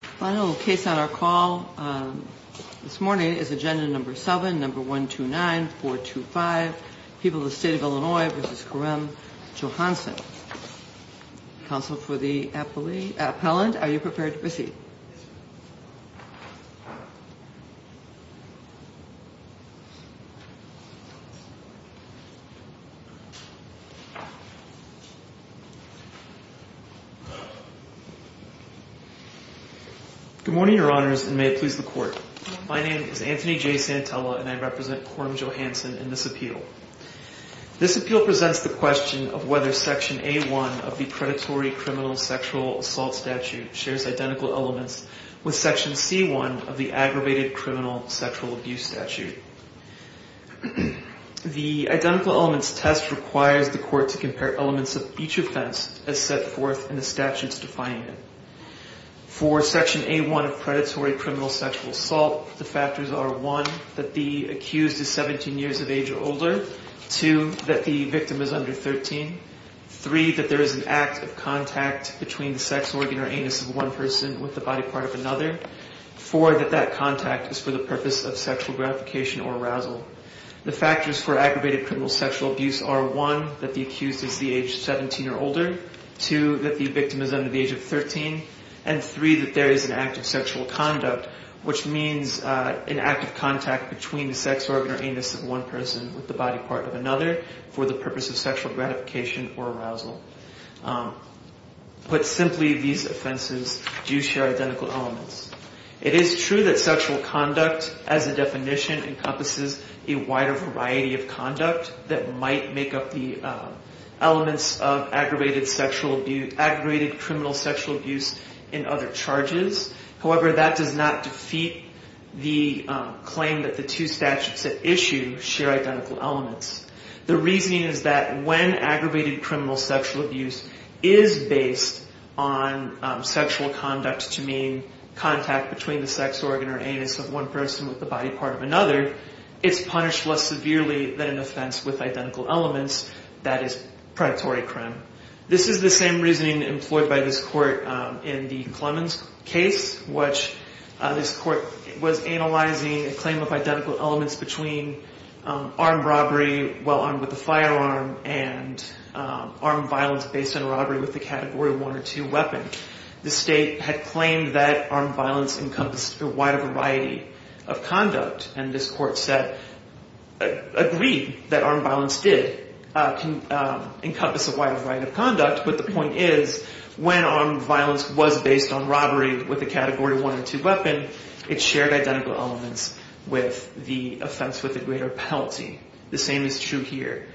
Final case on our call this morning is agenda number 7, number 129, 425, People of the State of Illinois v. Kareem Johanson. Counsel for the appellant, are you prepared to proceed? Good morning, your honors, and may it please the court. My name is Anthony J. Santella and I represent Kareem Johanson in this appeal. This appeal presents the question of whether Section A.1 of the Predatory Criminal Sexual Assault Statute shares identical elements with Section C.1 of the Aggravated Criminal Sexual Abuse Statute. The identical elements test requires the court to compare elements of each offense as set forth in the statutes defining it. For Section A.1 of Predatory Criminal Sexual Assault, the factors are 1. that the accused is 17 years of age or older, 2. that the victim is under 13, 3. that there is an act of contact between the sex organ or anus of one person with the body part of another, 4. that that contact is for the purpose of sexual gratification or arousal. The factors for aggravated criminal sexual abuse are 1. that the accused is the age of 17 or older, 2. that the victim is under the age of 13, and 3. that there is an act of sexual conduct, which means an act of contact between the sex organ or anus of one person with the body part of another for the purpose of sexual gratification or arousal. Put simply, these offenses do share identical elements. It is true that sexual conduct as a definition encompasses a wider variety of conduct that might make up the elements of aggravated criminal sexual abuse and other charges. However, that does not defeat the claim that the two statutes at issue share identical elements. The reasoning is that when aggravated criminal sexual abuse is based on sexual conduct to mean contact between the sex organ or anus of one person with the body part of another, it's punished less severely than an offense with identical elements, that is predatory crime. This is the same reasoning employed by this court in the Clemens case, which this court was analyzing a claim of identical elements between armed robbery, well armed with a firearm, and armed violence based on robbery with a Category 1 or 2 weapon. The state had claimed that armed violence encompassed a wider variety of conduct, and this court said, agreed that armed violence did encompass a wider variety of conduct, but the point is, when armed violence was based on robbery with a Category 1 or 2 weapon, it shared identical elements with the offense with a greater penalty. The same is true here.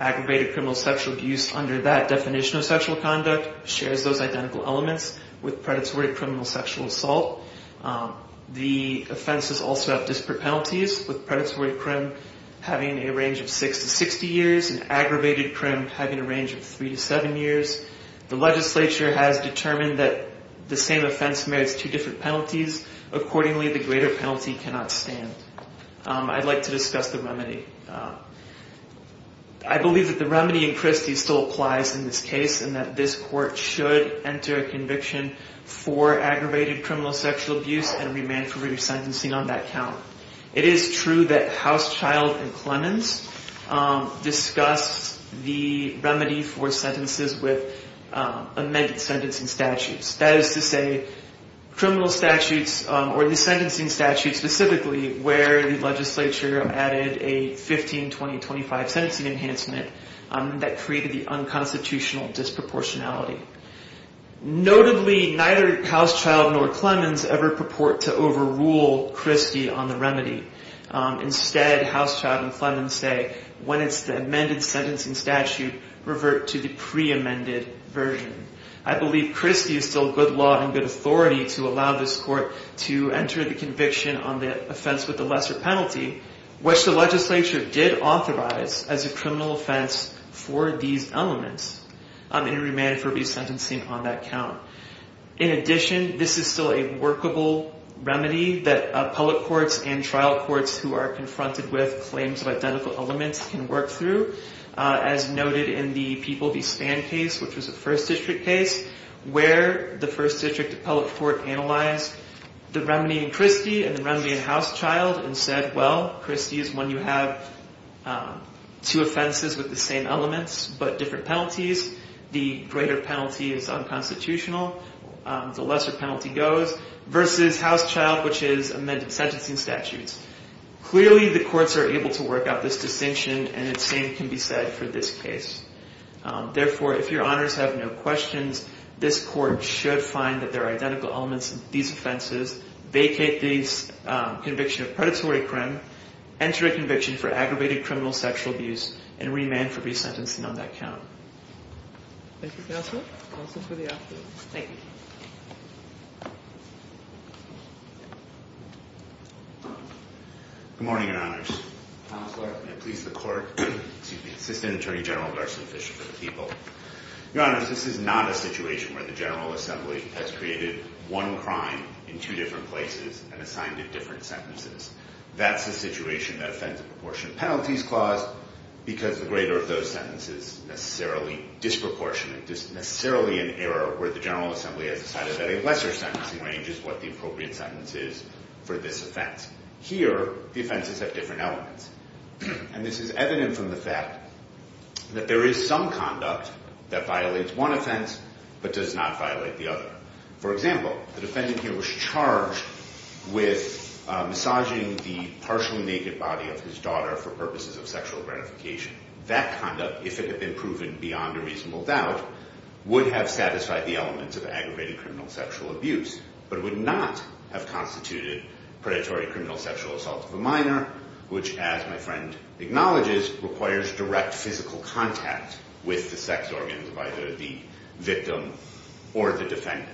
Aggravated criminal sexual abuse under that definition of sexual conduct shares those identical elements with predatory criminal sexual assault. The offenses also have disparate penalties, with predatory crime having a range of 6 to 60 years, and aggravated crime having a range of 3 to 7 years. The legislature has determined that the same offense merits two different penalties. Accordingly, the greater penalty cannot stand. I'd like to discuss the remedy. I believe that the remedy in Christie's still applies in this case, and that this court should enter a conviction for aggravated criminal sexual abuse and remand for re-sentencing on that count. It is true that Housechild and Clemens discussed the remedy for sentences with amended sentencing statutes. That is to say, criminal statutes, or the sentencing statute specifically, where the legislature added a 15-20-25 sentencing enhancement that created the unconstitutional disproportionality. Notably, neither Housechild nor Clemens ever purport to overrule Christie on the remedy. Instead, Housechild and Clemens say, when it's the amended sentencing statute, revert to the pre-amended version. I believe Christie is still good law and good authority to allow this court to enter the conviction on the offense with the lesser penalty, which the legislature did authorize as a criminal offense for these elements, and remand for re-sentencing on that count. In addition, this is still a workable remedy that public courts and trial courts who are confronted with claims of identical elements can work through. As noted in the People v. Spann case, which was a First District case, where the First District appellate court analyzed the remedy in Christie and the remedy in Housechild and said, well, Christie is one you have two offenses with the same elements, but different penalties. The greater penalty is unconstitutional, the lesser penalty goes, versus Housechild, which is amended sentencing statutes. Clearly, the courts are able to work out this distinction, and the same can be said for this case. Therefore, if your honors have no questions, this court should find that there are identical elements in these offenses, vacate the conviction of predatory crime, enter a conviction for aggravated criminal sexual abuse, and remand for re-sentencing on that count. Thank you, Counselor. Counsel for the afternoon. Thank you. Good morning, your honors. Thomas Larkin of the Police of the Court. Excuse me. Assistant Attorney General, Darcy Fisher for the People. Your honors, this is not a situation where the General Assembly has created one crime in two different places and assigned it different sentences. That's a situation that offends the proportion of penalties caused because the greater of those sentences necessarily disproportionate, necessarily an error where the General Assembly has decided that a lesser sentencing range is what the appropriate sentence is for this offense. Here, the offenses have different elements. And this is evident from the fact that there is some conduct that violates one offense but does not violate the other. For example, the defendant here was charged with massaging the partially naked body of his daughter for purposes of sexual gratification. That conduct, if it had been proven beyond a reasonable doubt, would have satisfied the elements of aggravated criminal sexual abuse but would not have constituted predatory criminal sexual assault of a minor, which, as my friend acknowledges, requires direct physical contact with the sex organs of either the victim or the defendant.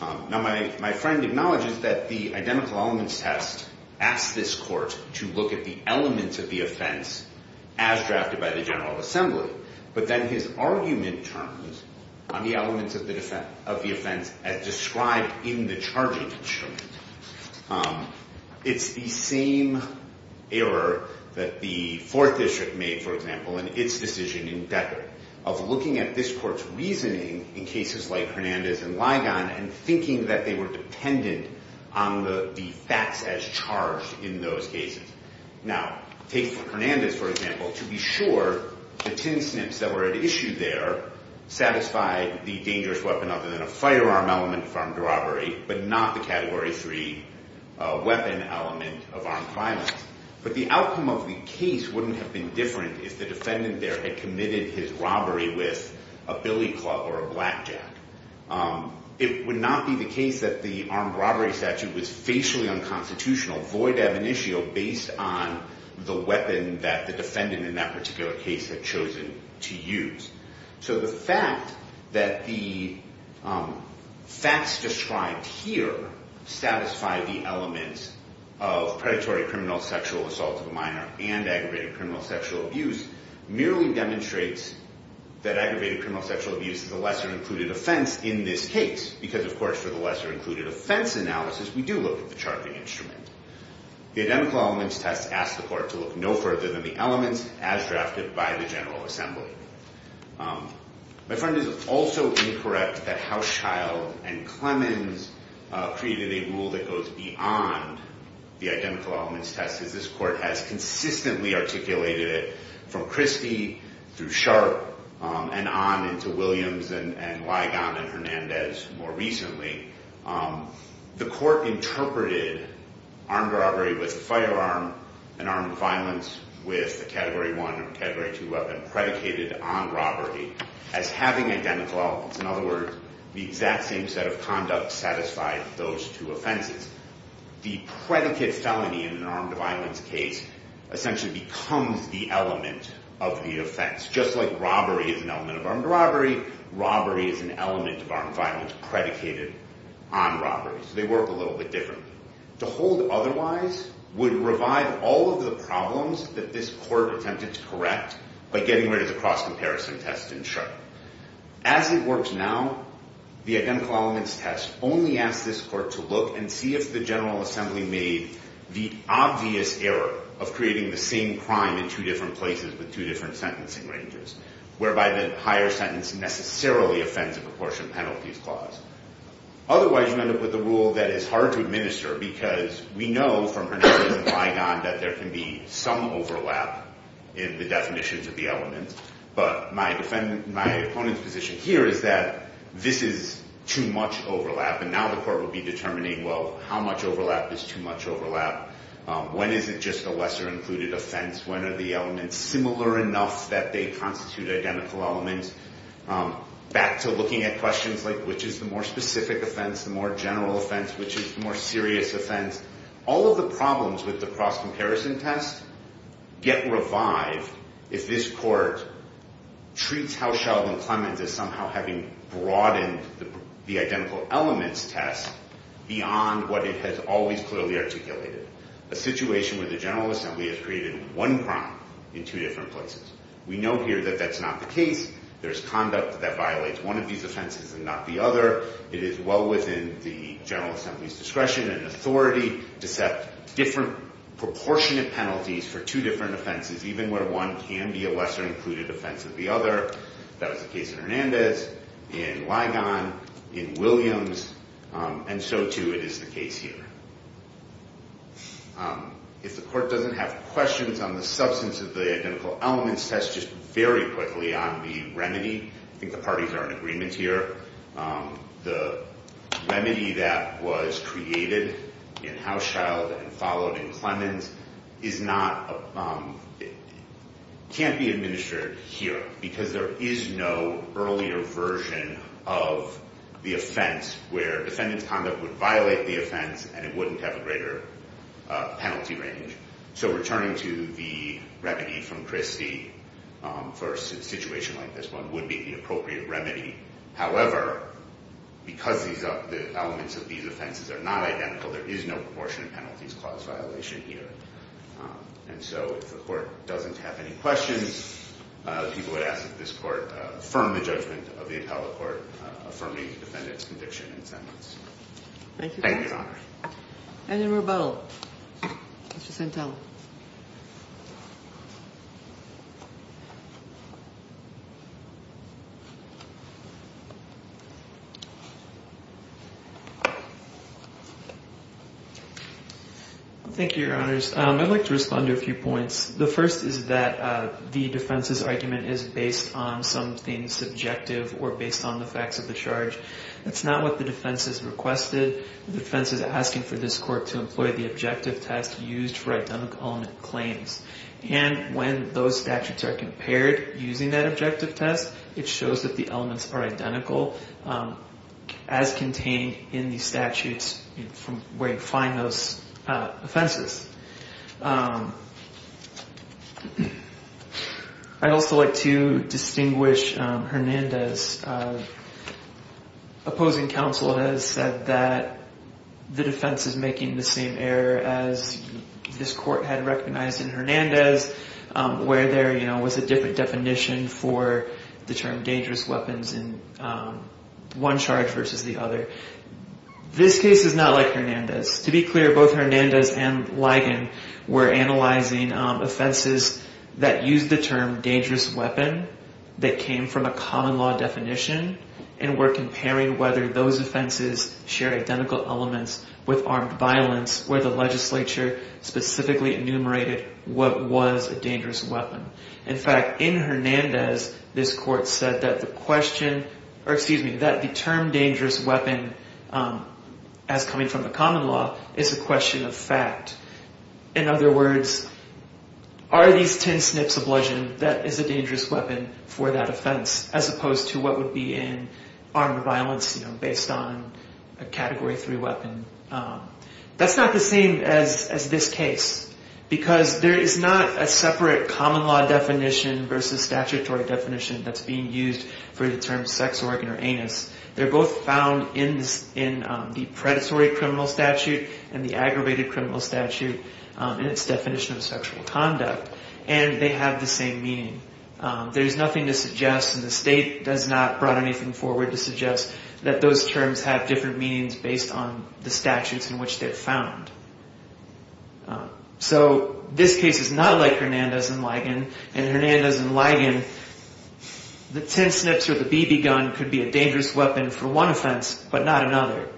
Now, my friend acknowledges that the identical elements test asks this court to look at the elements of the offense as drafted by the General Assembly, but then his argument turns on the elements of the offense as described in the charging instrument. It's the same error that the Fourth District made, for example, in its decision in Becker of looking at this court's reasoning in cases like Hernandez and Ligon and thinking that they were dependent on the facts as charged in those cases. Now, take Hernandez, for example. To be sure, the tin snips that were at issue there satisfied the dangerous weapon other than a firearm element of armed robbery but not the Category 3 weapon element of armed violence. But the outcome of the case wouldn't have been different if the defendant there had committed his robbery with a billy club or a blackjack. It would not be the case that the armed robbery statute was facially unconstitutional, void ab initio, based on the weapon that the defendant in that particular case had chosen to use. So the fact that the facts described here satisfy the elements of predatory criminal sexual assault of a minor and aggravated criminal sexual abuse merely demonstrates that aggravated criminal sexual abuse is a lesser-included offense in this case because, of course, for the lesser-included offense analysis, we do look at the charging instrument. The identical elements test asks the court to look no further than the elements as drafted by the General Assembly. My friend is also incorrect that Houschild and Clemens created a rule that goes beyond the identical elements test because this court has consistently articulated it from Christie through Sharp and on into Williams and Ligon and Hernandez more recently. The court interpreted armed robbery with a firearm and armed violence with a Category 1 or a Category 2 weapon predicated on robbery as having identical elements. In other words, the exact same set of conducts satisfied those two offenses. The predicate felony in an armed violence case essentially becomes the element of the offense. Just like robbery is an element of armed robbery, robbery is an element of armed violence predicated on robbery. So they work a little bit differently. To hold otherwise would revive all of the problems that this court attempted to correct by getting rid of the cross-comparison test in Sharp. As it works now, the identical elements test only asks this court to look and see if the General Assembly made the obvious error of creating the same crime in two different places with two different sentencing ranges, whereby the higher sentence necessarily offends a proportion penalty clause. Otherwise, you end up with a rule that is hard to administer because we know from Hernandez and Ligon that there can be some overlap in the definitions of the elements. But my opponent's position here is that this is too much overlap. And now the court will be determining, well, how much overlap is too much overlap? When is it just a lesser-included offense? When are the elements similar enough that they constitute identical elements? Back to looking at questions like which is the more specific offense, the more general offense? Which is the more serious offense? All of the problems with the cross-comparison test get revived if this court treats House Sheldon Clements as somehow having broadened the identical elements test beyond what it has always clearly articulated, a situation where the General Assembly has created one crime in two different places. We know here that that's not the case. There is conduct that violates one of these offenses and not the other. It is well within the General Assembly's discretion and authority to set different proportionate penalties for two different offenses, even where one can be a lesser-included offense than the other. That was the case in Hernandez, in Ligon, in Williams, and so, too, it is the case here. If the court doesn't have questions on the substance of the identical elements test, just very quickly on the remedy. I think the parties are in agreement here. The remedy that was created in House Sheldon and followed in Clements can't be administered here because there is no earlier version of the offense where defendant's conduct would violate the offense and it wouldn't have a greater penalty range. So returning to the remedy from Christie for a situation like this one would be the appropriate remedy. However, because the elements of these offenses are not identical, there is no proportionate penalties clause violation here. And so if the court doesn't have any questions, people would ask that this court affirm the judgment of the appellate court affirming the defendant's conviction and sentence. Thank you, Your Honor. And in rebuttal, Mr. Santella. Thank you, Your Honors. I'd like to respond to a few points. The first is that the defense's argument is based on something subjective or based on the facts of the charge. That's not what the defense has requested. The defense is asking for this court to employ the objective test used for identical element claims. And when those statutes are compared using that objective test, it shows that the elements are identical as contained in the statutes from where you find those offenses. I'd also like to distinguish Hernandez. Opposing counsel has said that the defense is making the same error as this court had recognized in Hernandez, where there was a different definition for the term dangerous weapons in one charge versus the other. This case is not like Hernandez. To be clear, both Hernandez and Ligon were analyzing offenses that used the term dangerous weapon that came from a common law definition and were comparing whether those offenses share identical elements with armed violence, where the legislature specifically enumerated what was a dangerous weapon. In fact, in Hernandez, this court said that the term dangerous weapon as coming from a common law is a question of fact. In other words, are these tin snips a bludgeon? That is a dangerous weapon for that offense, as opposed to what would be in armed violence based on a Category 3 weapon. That's not the same as this case, because there is not a separate common law definition versus statutory definition that's being used for the term sex organ or anus. They're both found in the predatory criminal statute and the aggravated criminal statute in its definition of sexual conduct, and they have the same meaning. There's nothing to suggest, and the state has not brought anything forward to suggest that those terms have different meanings based on the statutes in which they're found. So, this case is not like Hernandez and Ligon, and in Hernandez and Ligon, the tin snips or the BB gun could be a dangerous weapon for one offense, but not another.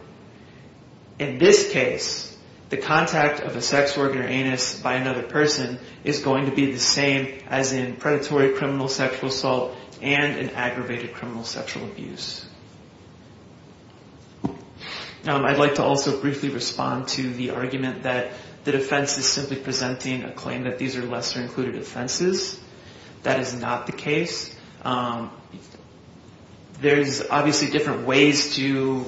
In this case, the contact of a sex organ or anus by another person is going to be the same as in predatory criminal sexual assault and an aggravated criminal sexual abuse. Now, I'd like to also briefly respond to the argument that the defense is simply presenting a claim that these are lesser included offenses. That is not the case. There's obviously different ways to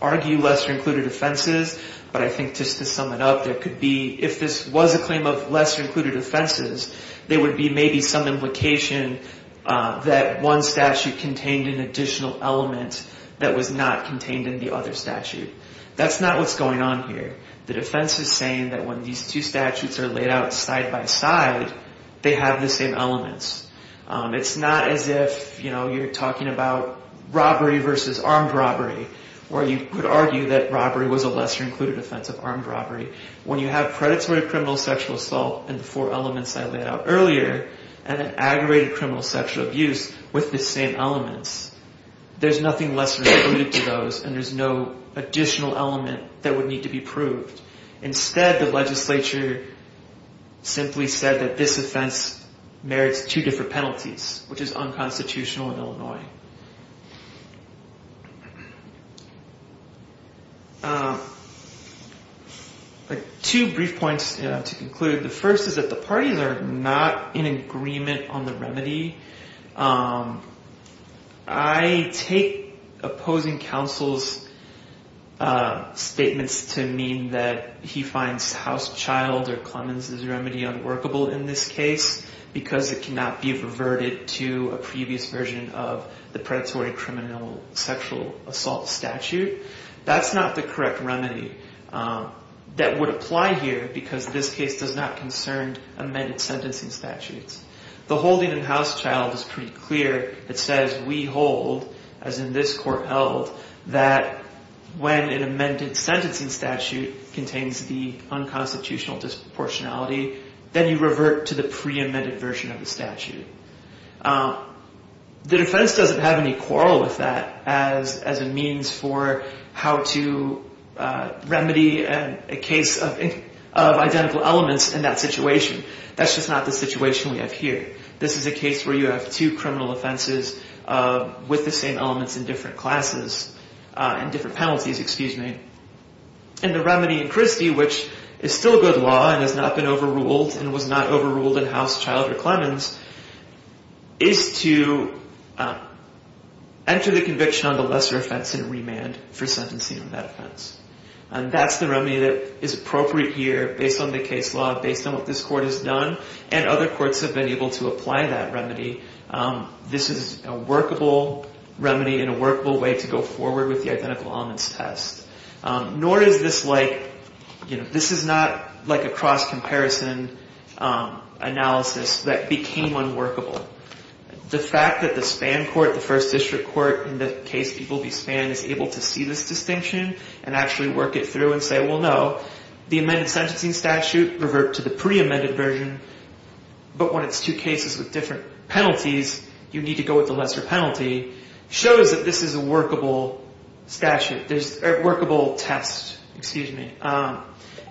argue lesser included offenses, but I think just to sum it up, there could be, if this was a claim of lesser included offenses, there would be maybe some implication that one statute contained an additional element that was not contained in the other statute. That's not what's going on here. The defense is saying that when these two statutes are laid out side by side, they have the same elements. It's not as if you're talking about robbery versus armed robbery, where you could argue that robbery was a lesser included offense of armed robbery. When you have predatory criminal sexual assault and the four elements I laid out earlier, and an aggravated criminal sexual abuse with the same elements, there's nothing lesser included to those and there's no additional element that would need to be proved. Instead, the legislature simply said that this offense merits two different penalties, which is unconstitutional in Illinois. Two brief points to conclude. The first is that the parties are not in agreement on the remedy. I take opposing counsel's statements to mean that he finds House Child or Clemens' remedy unworkable in this case, because it cannot be reverted to a previous version of the predatory criminal sexual assault statute. That's not the correct remedy that would apply here, because this case does not concern amended sentencing statutes. The holding in House Child is pretty clear. It says, we hold, as in this court held, that when an amended sentencing statute contains the unconstitutional disproportionality, then you revert to the pre-amended version of the statute. The defense doesn't have any quarrel with that as a means for how to remedy a case of identical elements in that situation. That's just not the situation we have here. This is a case where you have two criminal offenses with the same elements in different penalties. And the remedy in Christie, which is still good law and has not been overruled and was not overruled in House Child or Clemens, is to enter the conviction on the lesser offense in remand for sentencing on that offense. And that's the remedy that is appropriate here based on the case law, based on what this court has done, and other courts have been able to apply that remedy. This is a workable remedy and a workable way to go forward with the identical elements test. Nor is this like, you know, this is not like a cross-comparison analysis that became unworkable. The fact that the Span Court, the First District Court, in the case People v. Span, is able to see this distinction and actually work it through and say, well, no, the amended sentencing statute revert to the pre-amended version, but when it's two cases with different penalties, you need to go with the lesser penalty, shows that this is a workable test,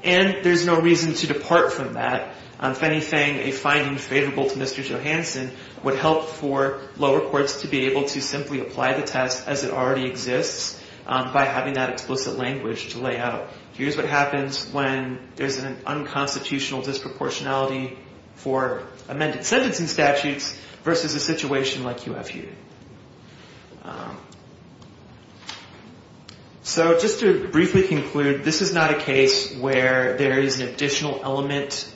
and there's no reason to depart from that. If anything, a finding favorable to Mr. Johanson would help for lower courts to be able to simply apply the test as it already exists by having that explicit language to lay out. Here's what happens when there's an unconstitutional disproportionality for amended sentencing statutes versus a situation like you have here. So just to briefly conclude, this is not a case where there is an additional element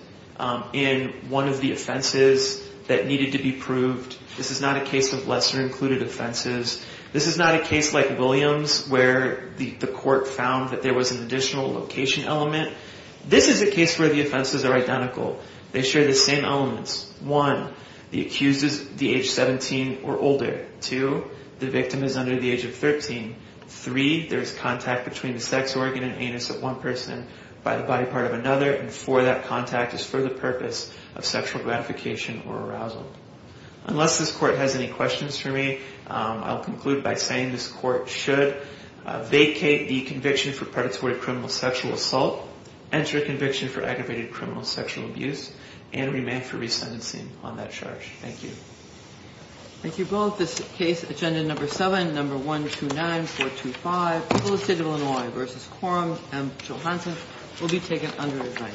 in one of the offenses that needed to be proved. This is not a case of lesser included offenses. This is not a case like Williams where the court found that there was an additional location element. This is a case where the offenses are identical. They share the same elements. One, the accused is age 17 or older. Two, the victim is under the age of 13. Three, there is contact between the sex organ and anus of one person by the body part of another. And four, that contact is for the purpose of sexual gratification or arousal. Unless this court has any questions for me, I'll conclude by saying this court should vacate the conviction for predatory criminal sexual assault, enter a conviction for aggravated criminal sexual abuse, and remain for resentencing on that charge. Thank you. Thank you both. This case, Agenda Number 7, Number 129425, Public State of Illinois v. Quorum, M. Johanson, will be taken under review.